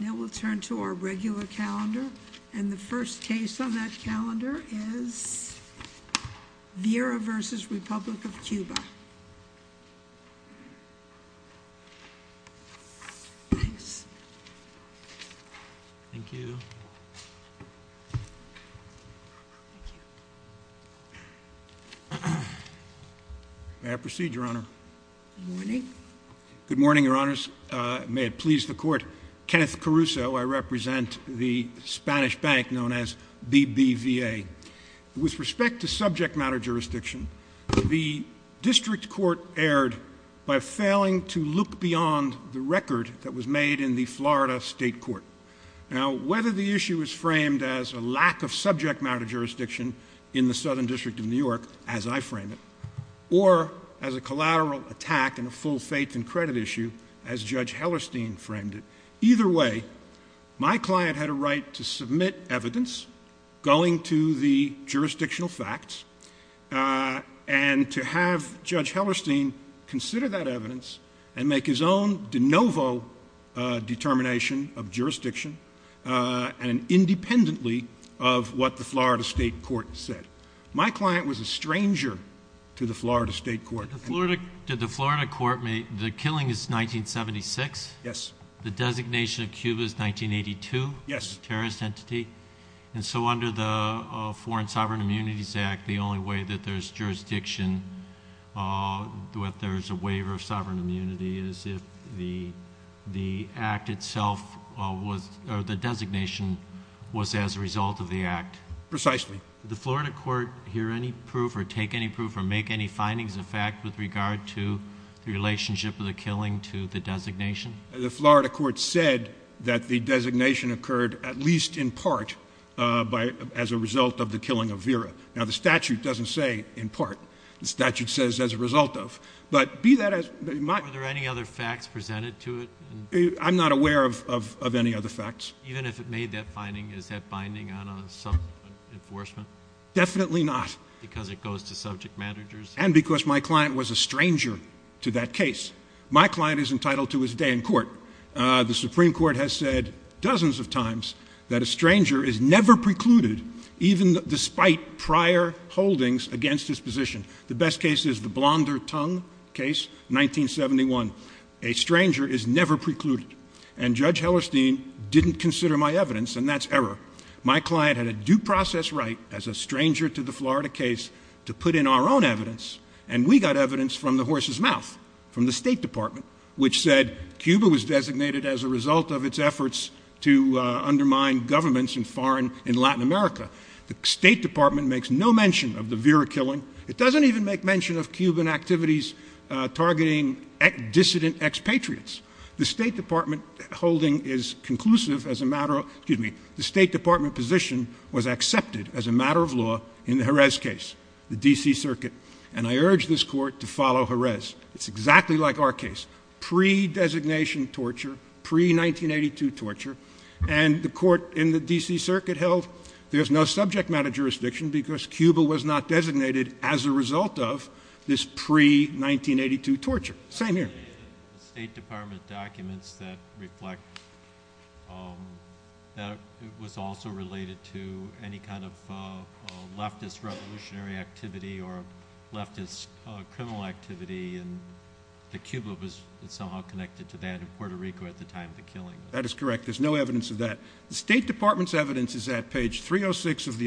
Now we'll turn to our regular calendar, and the first case on that calendar is Vera v. Republic of Cuba. May I proceed, Your Honor? Good morning. Good morning, Your Honors. May it please the Court. Kenneth Caruso, I represent the Spanish bank known as BBVA. With respect to subject matter jurisdiction, the District Court erred by failing to look beyond the record that was made in the Florida State Court. Now, whether the issue is framed as a lack of subject matter jurisdiction in the Southern District of New York, as I frame it, or as a collateral attack in a full faith and credit issue, as Judge Hellerstein framed it, either way, my client had a right to submit evidence going to the jurisdictional facts, and to have Judge Hellerstein consider that evidence and make his own de novo determination of jurisdiction, and independently of what the Florida State Court said. My client was a stranger to the Florida State Court. Did the Florida Court make, the killing is 1976? Yes. The designation of Cuba is 1982? Yes. Terrorist entity? And so under the Foreign Sovereign Immunities Act, the only way that there's jurisdiction, that there's a waiver of sovereign immunity, is if the act itself was, or the designation was as a result of the act? Precisely. Did the Florida Court hear any findings of fact with regard to the relationship of the killing to the designation? The Florida Court said that the designation occurred at least in part as a result of the killing of Vera. Now, the statute doesn't say in part. The statute says as a result of, but be that as... Were there any other facts presented to it? I'm not aware of any other facts. Even if it made that finding, is that binding on some enforcement? Definitely not. Because it goes to subject managers? And because my client was a stranger to that case. My client is entitled to his day in court. The Supreme Court has said dozens of times that a stranger is never precluded, even despite prior holdings against his position. The best case is the Blonder Tongue case, 1971. A stranger is never precluded. And Judge Hellerstein didn't consider my evidence, and that's error. My client had a due process right, as a stranger to the Florida case, to put in our own evidence. And we got evidence from the horse's mouth, from the State Department, which said Cuba was designated as a result of its efforts to undermine governments and foreign... In Latin America. The State Department makes no mention of the Vera killing. It doesn't even make mention of Cuban activities targeting dissident expatriates. The State Department holding is conclusive as a matter of... Excuse me. The State Department position was accepted as a matter of law in the Jerez case, the D.C. Circuit. And I urge this court to follow Jerez. It's exactly like our case. Pre-designation torture, pre-1982 torture. And the court in the D.C. Circuit held there's no torture. Same here. The State Department documents that reflect... It was also related to any kind of leftist revolutionary activity or leftist criminal activity, and that Cuba was somehow connected to that in Puerto Rico at the time of the killing. That is correct. There's no evidence of that. The State Department's evidence is at page 306 of the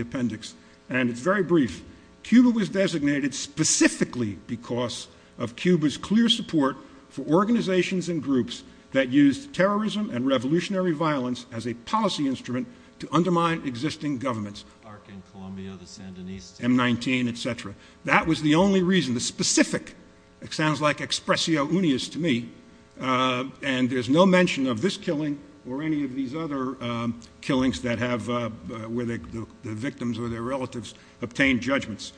Cuba's clear support for organizations and groups that used terrorism and revolutionary violence as a policy instrument to undermine existing governments. ARC in Colombia, the Sandinista... M-19, et cetera. That was the only reason, the specific. It sounds like expressio unius to me. And there's no mention of this killing or any of these other killings that have... The victims or their relatives obtained judgments.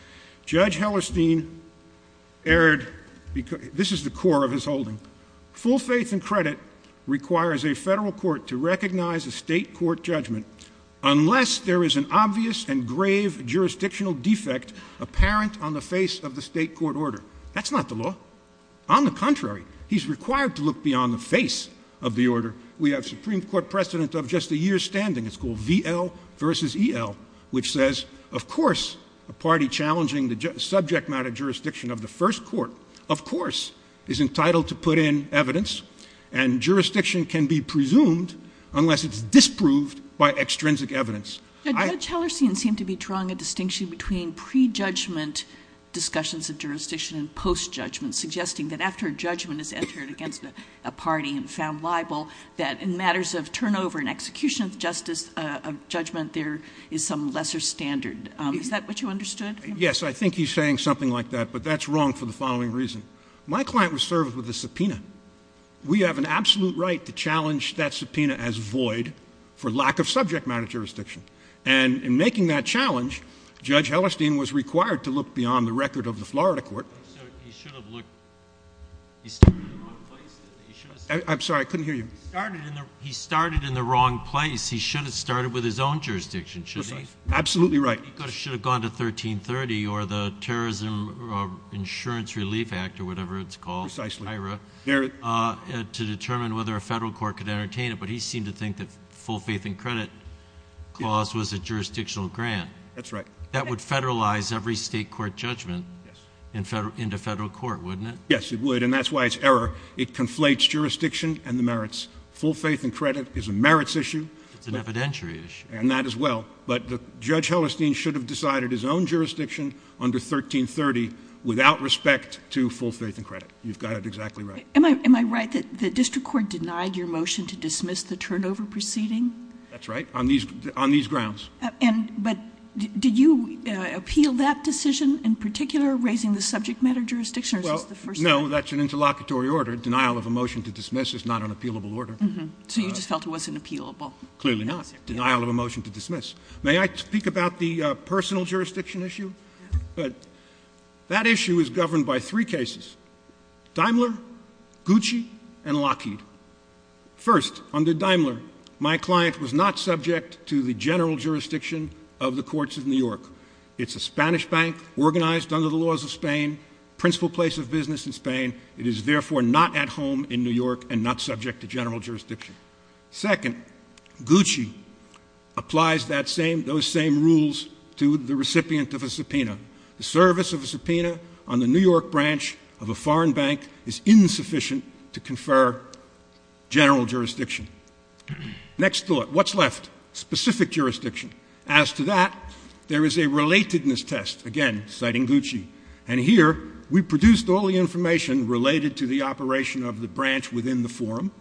Judge Hellerstein erred... This is the core of his holding. Full faith and credit requires a federal court to recognize a state court judgment unless there is an obvious and grave jurisdictional defect apparent on the face of the state court order. That's not the law. On the contrary, he's required to look beyond the face of the order. We have Supreme Court precedent of just a year's standing. It's called V.L. versus E.L., which says, of course, a party challenging the subject matter jurisdiction of the first court, of course, is entitled to put in evidence. And jurisdiction can be presumed unless it's disproved by extrinsic evidence. Judge Hellerstein seemed to be drawing a distinction between pre-judgment discussions of jurisdiction and post-judgment, suggesting that after a judgment is entered against a party and found liable, that in matters of turnover and execution of judgment, there is some lesser standard. Is that what you understood? Yes, I think he's saying something like that, but that's wrong for the following reason. My client was served with a subpoena. We have an absolute right to challenge that subpoena as void for lack of subject matter jurisdiction. And in making that challenge, Judge Hellerstein was required to look beyond the record of the Florida court. He should have looked. He started in the wrong place. I'm sorry, I couldn't hear you. He started in the wrong place. He should have started with his own jurisdiction, should he? Absolutely right. He should have gone to 1330 or the Terrorism Insurance Relief Act or whatever it's called, to determine whether a federal court could entertain it. But he seemed to think that full faith and credit clause was a jurisdictional grant that would federalize every state court into federal court, wouldn't it? Yes, it would. And that's why it's error. It conflates jurisdiction and the merits. Full faith and credit is a merits issue. It's an evidentiary issue. And that as well. But Judge Hellerstein should have decided his own jurisdiction under 1330 without respect to full faith and credit. You've got it exactly right. Am I right that the district court denied your motion to dismiss the turnover proceeding? That's right, on these grounds. But did you appeal that decision in particular, raising the subject matter jurisdiction? No, that's an interlocutory order. Denial of a motion to dismiss is not an appealable order. So you just felt it wasn't appealable? Clearly not. Denial of a motion to dismiss. May I speak about the personal jurisdiction issue? That issue is governed by three cases. Daimler, Gucci, and Lockheed. First, under Daimler, my client was not subject to the general jurisdiction of the courts of New York. It's a Spanish bank organized under the laws of Spain, principal place of business in Spain. It is therefore not at home in New York and not subject to general jurisdiction. Second, Gucci applies those same rules to the recipient of a subpoena. The service of a subpoena on the New York branch of a foreign bank is insufficient to confer general jurisdiction. Next thought, what's left? Specific jurisdiction. As to that, there is a relatedness test, again, citing Gucci. And here, we produced all the information related to the operation of the branch within the forum.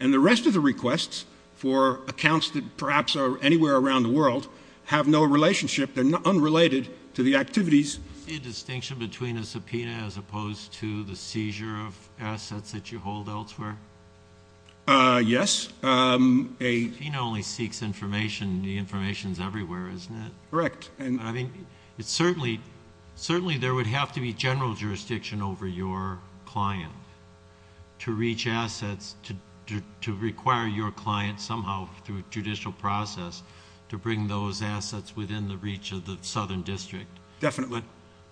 And the rest of the requests for accounts that perhaps are anywhere around the world have no relationship. They're unrelated to the activities. Is there a distinction between a subpoena as opposed to the seizure of assets that you hold elsewhere? Yes. A subpoena only seeks information. The information is everywhere, isn't it? Correct. Certainly, there would have to be general jurisdiction over your client to reach assets, to require your client somehow through judicial process to bring those assets within the reach of the southern district. Definitely.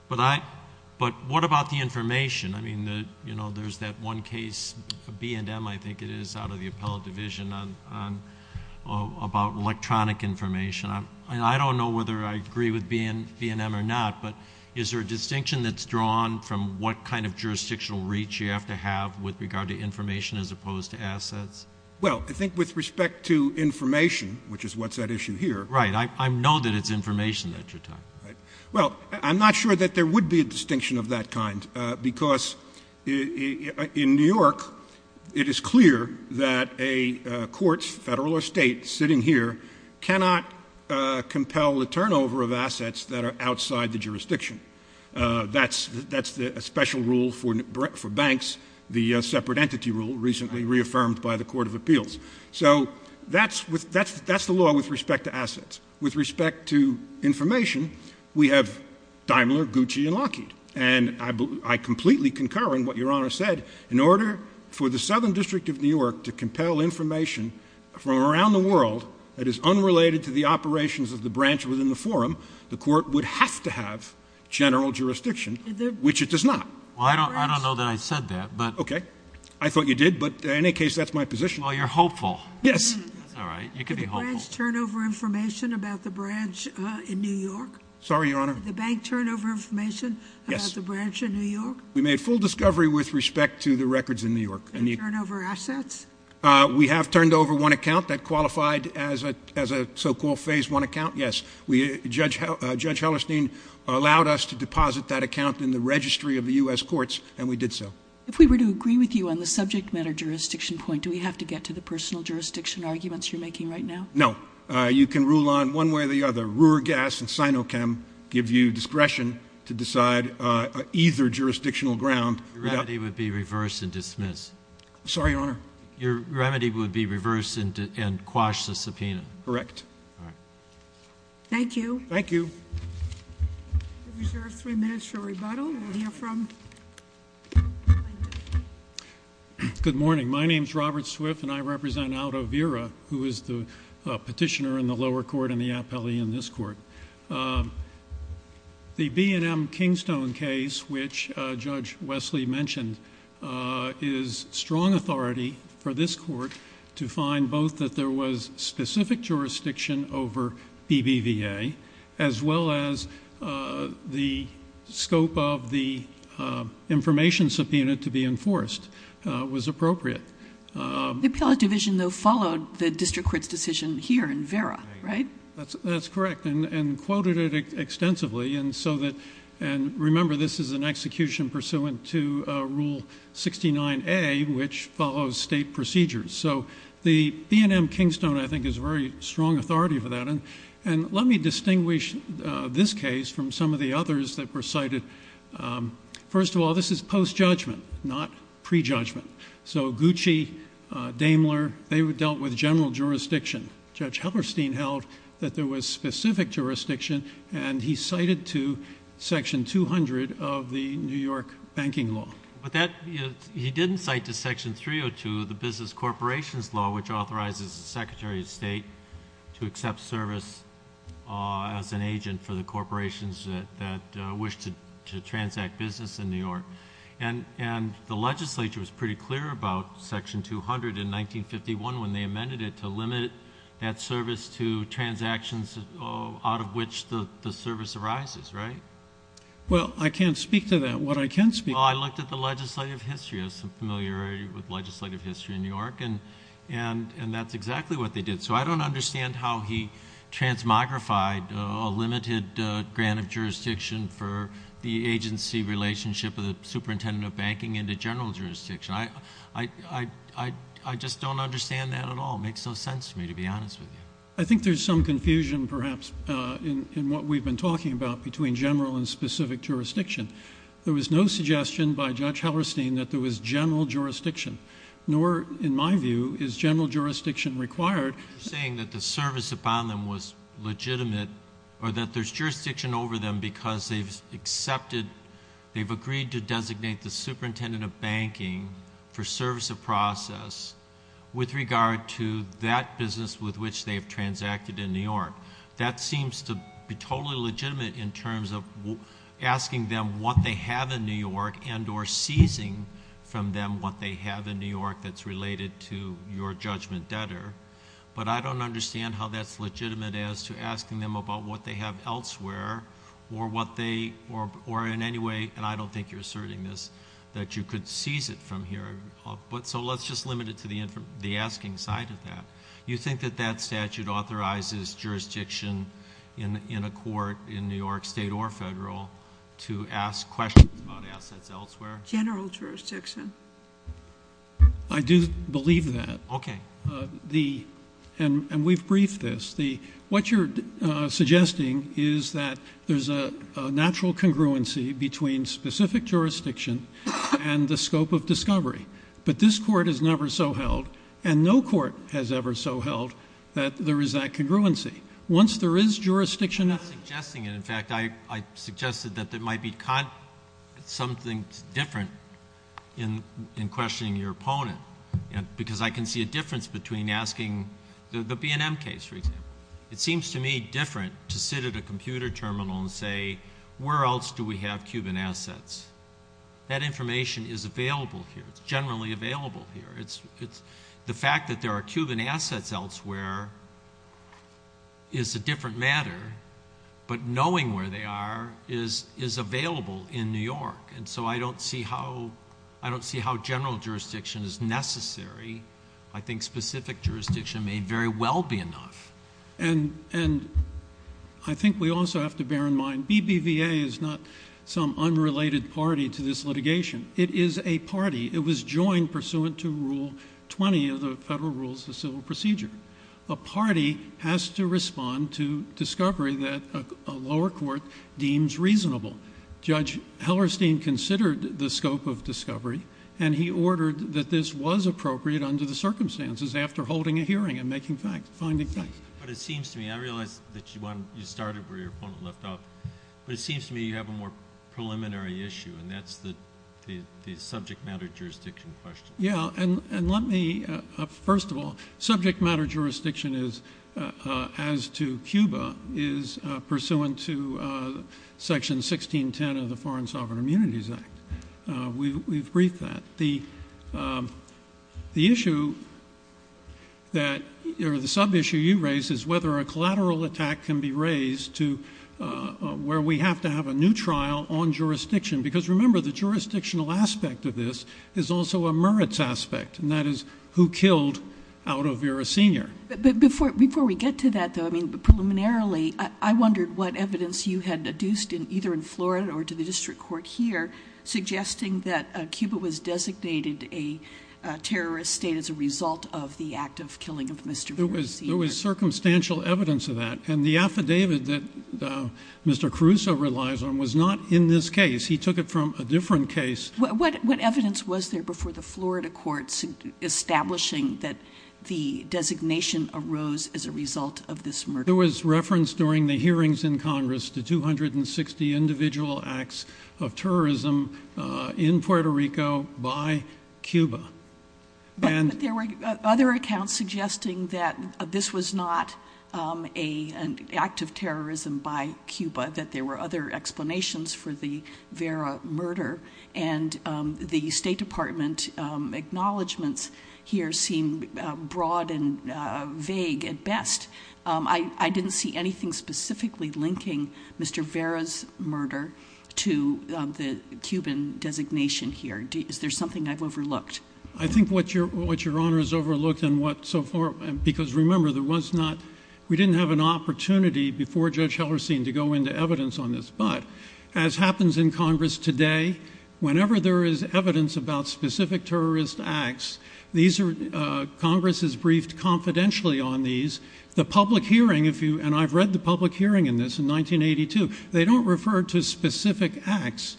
But what about the information? I mean, there's that one case, B&M, I think it is, out of the appellate division about electronic information. I don't know whether I agree with B&M or not, but is there a distinction that's drawn from what kind of jurisdictional reach you have to have with regard to information as opposed to assets? Well, I think with respect to information, which is what's at issue here— Right. I know that it's information that you're talking about. Well, I'm not sure that there would be a distinction of that kind because in New York, it is clear that a court, federal or state, sitting here cannot compel the turnover of assets that are outside the jurisdiction. That's a special rule for banks, the separate entity rule recently reaffirmed by the Court of Appeals. So that's the law with respect to assets. With respect to information, we have Daimler, Gucci, and Lockheed. And I completely concur in what Your Honor said. In order for the Southern District of New York to compel information from around the world that is unrelated to the operations of the branch within the forum, the court would have to have general jurisdiction, which it does not. Well, I don't know that I said that, but— Okay. I thought you did, but in any case, that's my position. Well, you're hopeful. Yes. That's all right. You could be hopeful. Turnover information about the branch in New York? Sorry, Your Honor. The bank turnover information about the branch in New York? We made full discovery with respect to the records in New York. And turnover assets? We have turned over one account that qualified as a so-called phase one account, yes. Judge Hellerstein allowed us to deposit that account in the registry of the U.S. courts, and we did so. If we were to agree with you on the subject matter jurisdiction point, do we have to get to the personal jurisdiction arguments you're making right now? No. You can rule on one way or the other. Ruhrgas and Sinochem give you discretion to decide either jurisdictional ground— Your remedy would be reverse and dismiss. Sorry, Your Honor. Your remedy would be reverse and quash the subpoena. Correct. Thank you. We reserve three minutes for rebuttal. We'll hear from— Good morning. My name's Robert Swift, and I represent Aldo Vera, who is the petitioner in the lower court and the appellee in this court. The B&M Kingstone case, which Judge Wesley mentioned, is strong authority for this court to find both that there was specific jurisdiction over BBVA as well as the scope of the information subpoena to be enforced was appropriate. The appellate division, though, followed the district court's decision here in Vera, right? That's correct, and quoted it extensively. Remember, this is an execution pursuant to Rule 69A, which follows state procedures. The B&M Kingstone, I think, is very strong authority for that. Let me distinguish this case from some of the others that were cited. First of all, this is post-judgment, not pre-judgment. So Gucci, Daimler, they dealt with general jurisdiction. Judge Hellerstein held that there was specific jurisdiction, and he cited to Section 200 of the New York banking law. But he didn't cite to Section 302 of the business corporations law, which authorizes the Secretary of State to accept service as an agent for the corporations that wish to transact business in New York. And the legislature was pretty clear about Section 200 in 1951 when they amended it to limit that service to transactions out of which the service arises, right? Well, I can't speak to that. What I can speak to— I looked at the legislative history. I have some familiarity with legislative history in New York, and that's exactly what they did. So I don't understand how he transmogrified a limited grant of jurisdiction for the agency relationship of the superintendent of banking into general jurisdiction. I just don't understand that at all. It makes no sense to me, to be honest with you. I think there's some confusion, perhaps, in what we've been talking about between general and specific jurisdiction. There was no suggestion by Judge Hellerstein that there was general jurisdiction, nor, in my view, is general jurisdiction required— Saying that the service upon them was legitimate or that there's jurisdiction over them because they've accepted—they've agreed to designate the superintendent of banking for service of process with regard to that business with which they've transacted in New York. That seems to be totally legitimate in terms of asking them what they have in New York and or seizing from them what they have in New York that's related to your judgment debtor. But I don't understand how that's legitimate as to asking them about what they have elsewhere or what they—or in any way, and I don't think you're asserting this, that you could seize it from here. So let's just limit it to the asking side of that. You think that that statute authorizes jurisdiction in a court in New York state or federal to ask questions about assets elsewhere? General jurisdiction. I do believe that. Okay. And we've briefed this. What you're suggesting is that there's a natural congruency between specific jurisdiction and the scope of discovery. But this court has never so held and no court has ever so held that there is that congruency. Once there is jurisdiction— I'm not suggesting it. In fact, I suggested that there might be something different in questioning your opponent because I can see a difference between asking—the B&M case, for example. It seems to me different to sit at a computer terminal and say, where else do we have Cuban assets? That information is available here. It's generally available here. The fact that there are Cuban assets elsewhere is a different matter, but knowing where they are is available in New York. And so I don't see how general jurisdiction is necessary. I think specific jurisdiction may very well be enough. And I think we also have to bear in mind BBVA is not some unrelated party to this litigation. It is a party. It was joined pursuant to Rule 20 of the Federal Rules of Civil Procedure. A party has to respond to discovery that a lower court deems reasonable. Judge Hellerstein considered the scope of discovery, and he ordered that this was appropriate under the circumstances after holding a hearing and making finding facts. But it seems to me—I realize that you started where your opponent left off— but it seems to me you have a more preliminary issue, and that's the subject matter jurisdiction question. Yeah, and let me—first of all, subject matter jurisdiction as to Cuba is pursuant to Section 1610 of the Foreign Sovereign Immunities Act. We've briefed that. The issue that—or the sub-issue you raised— is whether a collateral attack can be raised to where we have to have a new trial on jurisdiction. Because remember, the jurisdictional aspect of this is also a merits aspect, and that is who killed Aldo Vera Sr. But before we get to that, though, I mean, preliminarily, I wondered what evidence you had deduced either in Florida or to the district court here suggesting that Cuba was designated a terrorist state as a result of the act of killing of Mr. Vera Sr. There was circumstantial evidence of that, and the affidavit that Mr. Caruso relies on was not in this case. He took it from a different case. What evidence was there before the Florida courts establishing that the designation arose as a result of this murder? There was reference during the hearings in Congress to 260 individual acts of terrorism in Puerto Rico by Cuba. But there were other accounts suggesting that this was not an act of terrorism by Cuba, that there were other explanations for the Vera murder, and the State Department acknowledgments here seem broad and vague at best. I didn't see anything specifically linking Mr. Vera's murder to the Cuban designation here. Is there something I've overlooked? I think what Your Honor has overlooked and what so far— because remember, there was not— we didn't have an opportunity before Judge Hellerstein to go into evidence on this. But as happens in Congress today, whenever there is evidence about specific terrorist acts, Congress is briefed confidentially on these. The public hearing, if you— and I've read the public hearing in this in 1982— they don't refer to specific acts.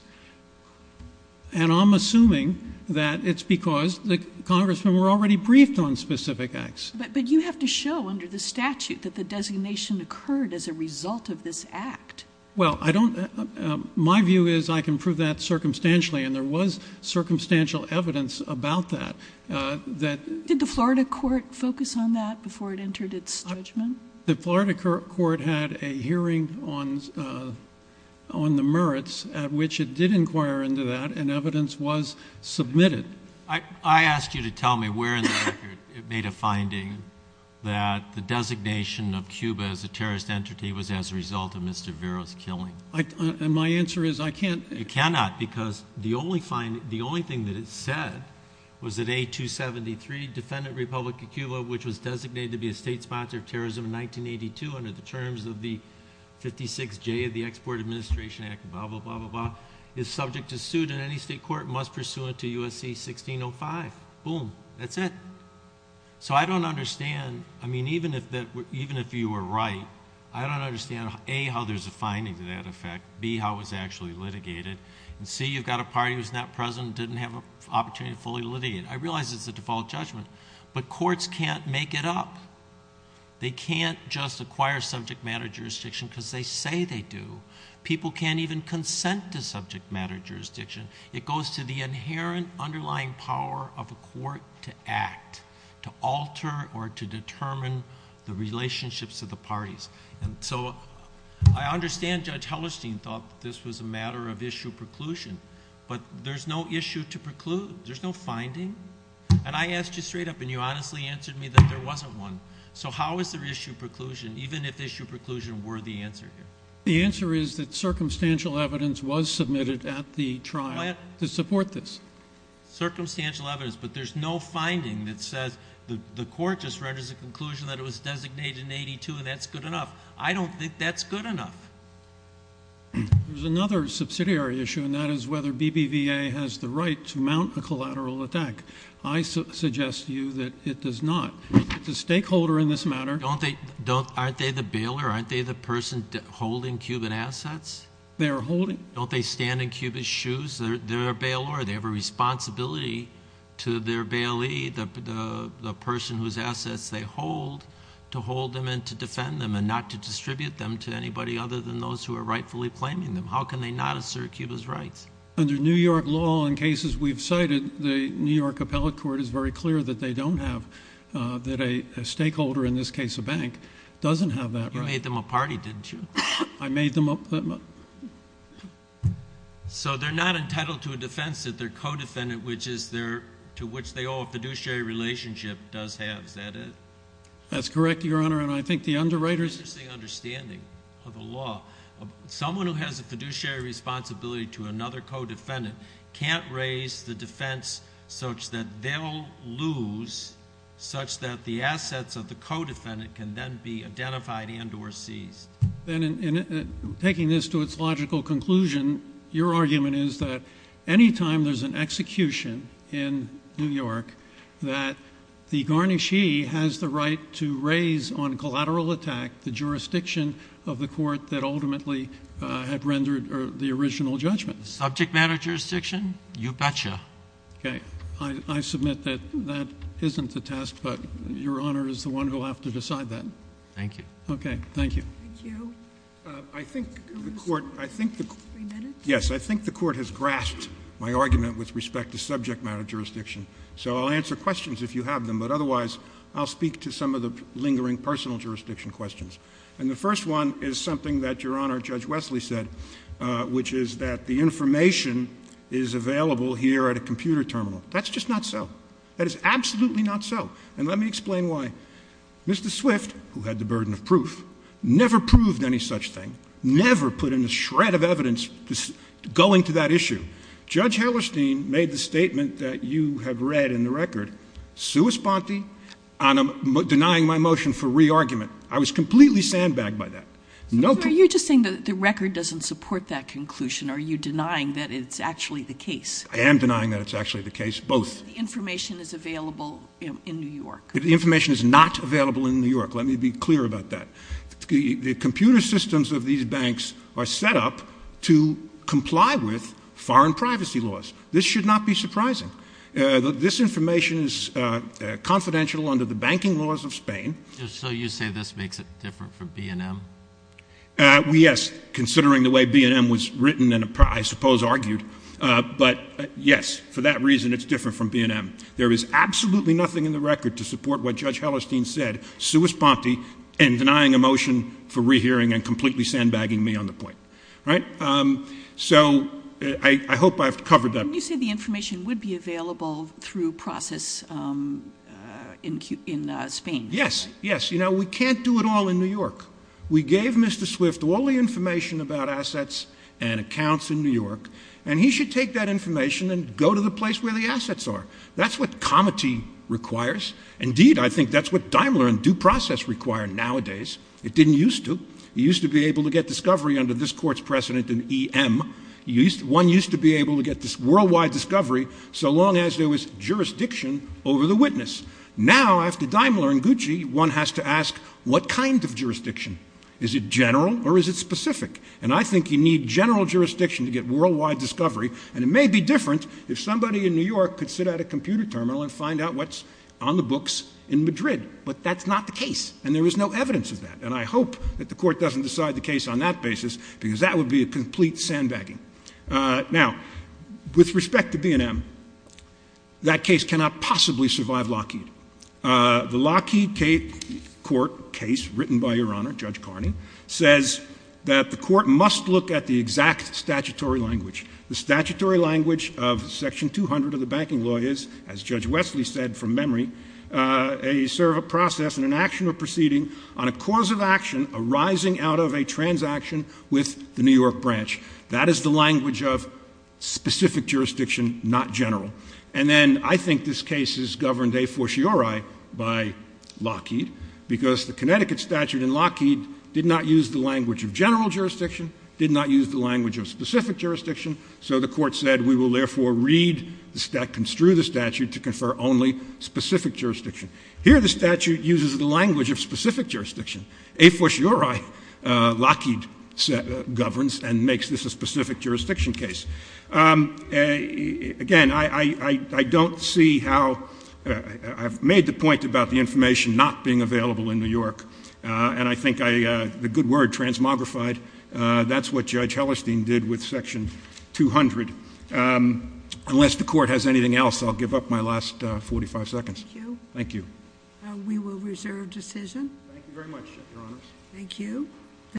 And I'm assuming that it's because the congressmen were already briefed on specific acts. But you have to show under the statute that the designation occurred as a result of this act. Well, I don't— my view is I can prove that circumstantially, and there was circumstantial evidence about that. That— Did the Florida court focus on that before it entered its judgment? The Florida court had a hearing on the merits at which it did inquire into that, and evidence was submitted. I asked you to tell me where in the record it made a finding that the designation of Cuba as a terrorist entity was as a result of Mr. Vera's killing. And my answer is I can't— cannot because the only finding— the only thing that it said was that A-273, Defendant Republic of Cuba, which was designated to be a state sponsor of terrorism in 1982 under the terms of the 56J of the Export Administration Act, is subject to suit and any state court must pursue it to USC-1605. Boom. That's it. So I don't understand. I mean, even if that— even if you were right, I don't understand, A, how there's a finding to that effect, B, how it was actually litigated, and C, you've got a party who's not present and didn't have an opportunity to fully litigate. I realize it's a default judgment, but courts can't make it up. They can't just acquire subject matter jurisdiction because they say they do. People can't even consent to subject matter jurisdiction. It goes to the inherent underlying power of a court to act, to alter or to determine the relationships of the parties. And so I understand Judge Hellerstein thought this was a matter of issue preclusion, but there's no issue to preclude. There's no finding. And I asked you straight up and you honestly answered me that there wasn't one. So how is there issue preclusion, even if issue preclusion were the answer here? The answer is that circumstantial evidence was submitted at the trial to support this. Circumstantial evidence, but there's no finding that says the court just renders a conclusion that it was designated in 82 and that's good enough. I don't think that's good enough. There's another subsidiary issue, and that is whether BBVA has the right to mount a collateral attack. I suggest to you that it does not. It's a stakeholder in this matter. Aren't they the bailer? Aren't they the person holding Cuban assets? They're holding. Don't they stand in Cuban's shoes? They're a bailer. They have a responsibility to their bailee, the person whose assets they hold, to hold them and to defend them and not to distribute them to anybody other than those who are rightfully claiming them. How can they not assert Cuba's rights? Under New York law and cases we've cited, the New York appellate court is very clear that they don't have, that a stakeholder, in this case a bank, doesn't have that right. You made them a party, didn't you? I made them a... So they're not entitled to a defense that they're co-defendant, to which they owe a fiduciary relationship, does have. Is that it? That's correct, Your Honor. And I think the underwriters... It's just the understanding of the law. Someone who has a fiduciary responsibility to another co-defendant can't raise the defense such that they'll lose, such that the assets of the co-defendant can then be identified and or seized. Then in taking this to its logical conclusion, your argument is that any time there's an execution in New York, that the garnishee has the right to raise on collateral attack the jurisdiction of the court that ultimately had rendered the original judgment. Subject matter jurisdiction? You betcha. Okay, I submit that that isn't the test, but Your Honor is the one who'll have to decide that. Thank you. Okay, thank you. Thank you. I think the court has grasped my argument with respect to subject matter jurisdiction. So I'll answer questions if you have them, but otherwise I'll speak to some of the lingering personal jurisdiction questions. And the first one is something that Your Honor, Judge Wesley said, which is that the information is available here at a computer terminal. That's just not so. That is absolutely not so. And let me explain why. Mr. Swift, who had the burden of proof, never proved any such thing, never put in a shred of evidence going to that issue. Judge Hellerstein made the statement that you have read in the record, sua sponte, denying my motion for re-argument. I was completely sandbagged by that. So are you just saying that the record doesn't support that conclusion? Are you denying that it's actually the case? I am denying that it's actually the case. Both. Information is available in New York. The information is not available in New York. Let me be clear about that. The computer systems of these banks are set up to comply with foreign privacy laws. This should not be surprising. This information is confidential under the banking laws of Spain. So you say this makes it different from BNM? Yes, considering the way BNM was written and, I suppose, argued. But yes, for that reason, it's different from BNM. There is absolutely nothing in the record to support what Judge Hellerstein said, sua sponte, and denying a motion for re-hearing and completely sandbagging me on the point. Right? So I hope I've covered that. You said the information would be available through process in Spain. Yes. Yes. You know, we can't do it all in New York. We gave Mr. Swift all the information about assets and accounts in New York, and he should take that information and go to the place where the assets are. That's what comity requires. Indeed, I think that's what Daimler and due process require nowadays. It didn't used to. You used to be able to get discovery under this court's precedent in EM. One used to be able to get this worldwide discovery so long as there was jurisdiction over the witness. Now, after Daimler and Gucci, one has to ask, what kind of jurisdiction? Is it general or is it specific? And I think you need general jurisdiction to get worldwide discovery. And it may be different if somebody in New York could sit at a computer terminal and find out what's on the books in Madrid. But that's not the case. And there is no evidence of that. And I hope that the court doesn't decide the case on that basis because that would be a complete sandbagging. Now, with respect to BNM, that case cannot possibly survive Lockheed. The Lockheed case, written by Your Honor, Judge Carney, says that the court must look at the exact statutory language. The statutory language of Section 200 of the Banking Law is, as Judge Wesley said from memory, a sort of a process and an action or proceeding on a cause of action arising out of a transaction with the New York branch. That is the language of specific jurisdiction, not general. And then I think this case is governed a fortiori by Lockheed because the Connecticut statute in Lockheed did not use the language of general jurisdiction, did not use the So the court said, we will therefore read the statute, construe the statute to confer only specific jurisdiction. Here, the statute uses the language of specific jurisdiction. A fortiori, Lockheed governs and makes this a specific jurisdiction case. Again, I don't see how—I've made the point about the information not being available in New York, and I think the good word, transmogrified, that's what Judge Hellerstein did with Section 200. Unless the court has anything else, I'll give up my last 45 seconds. Thank you. Thank you. We will reserve decision. Thank you very much, Your Honors. Thank you.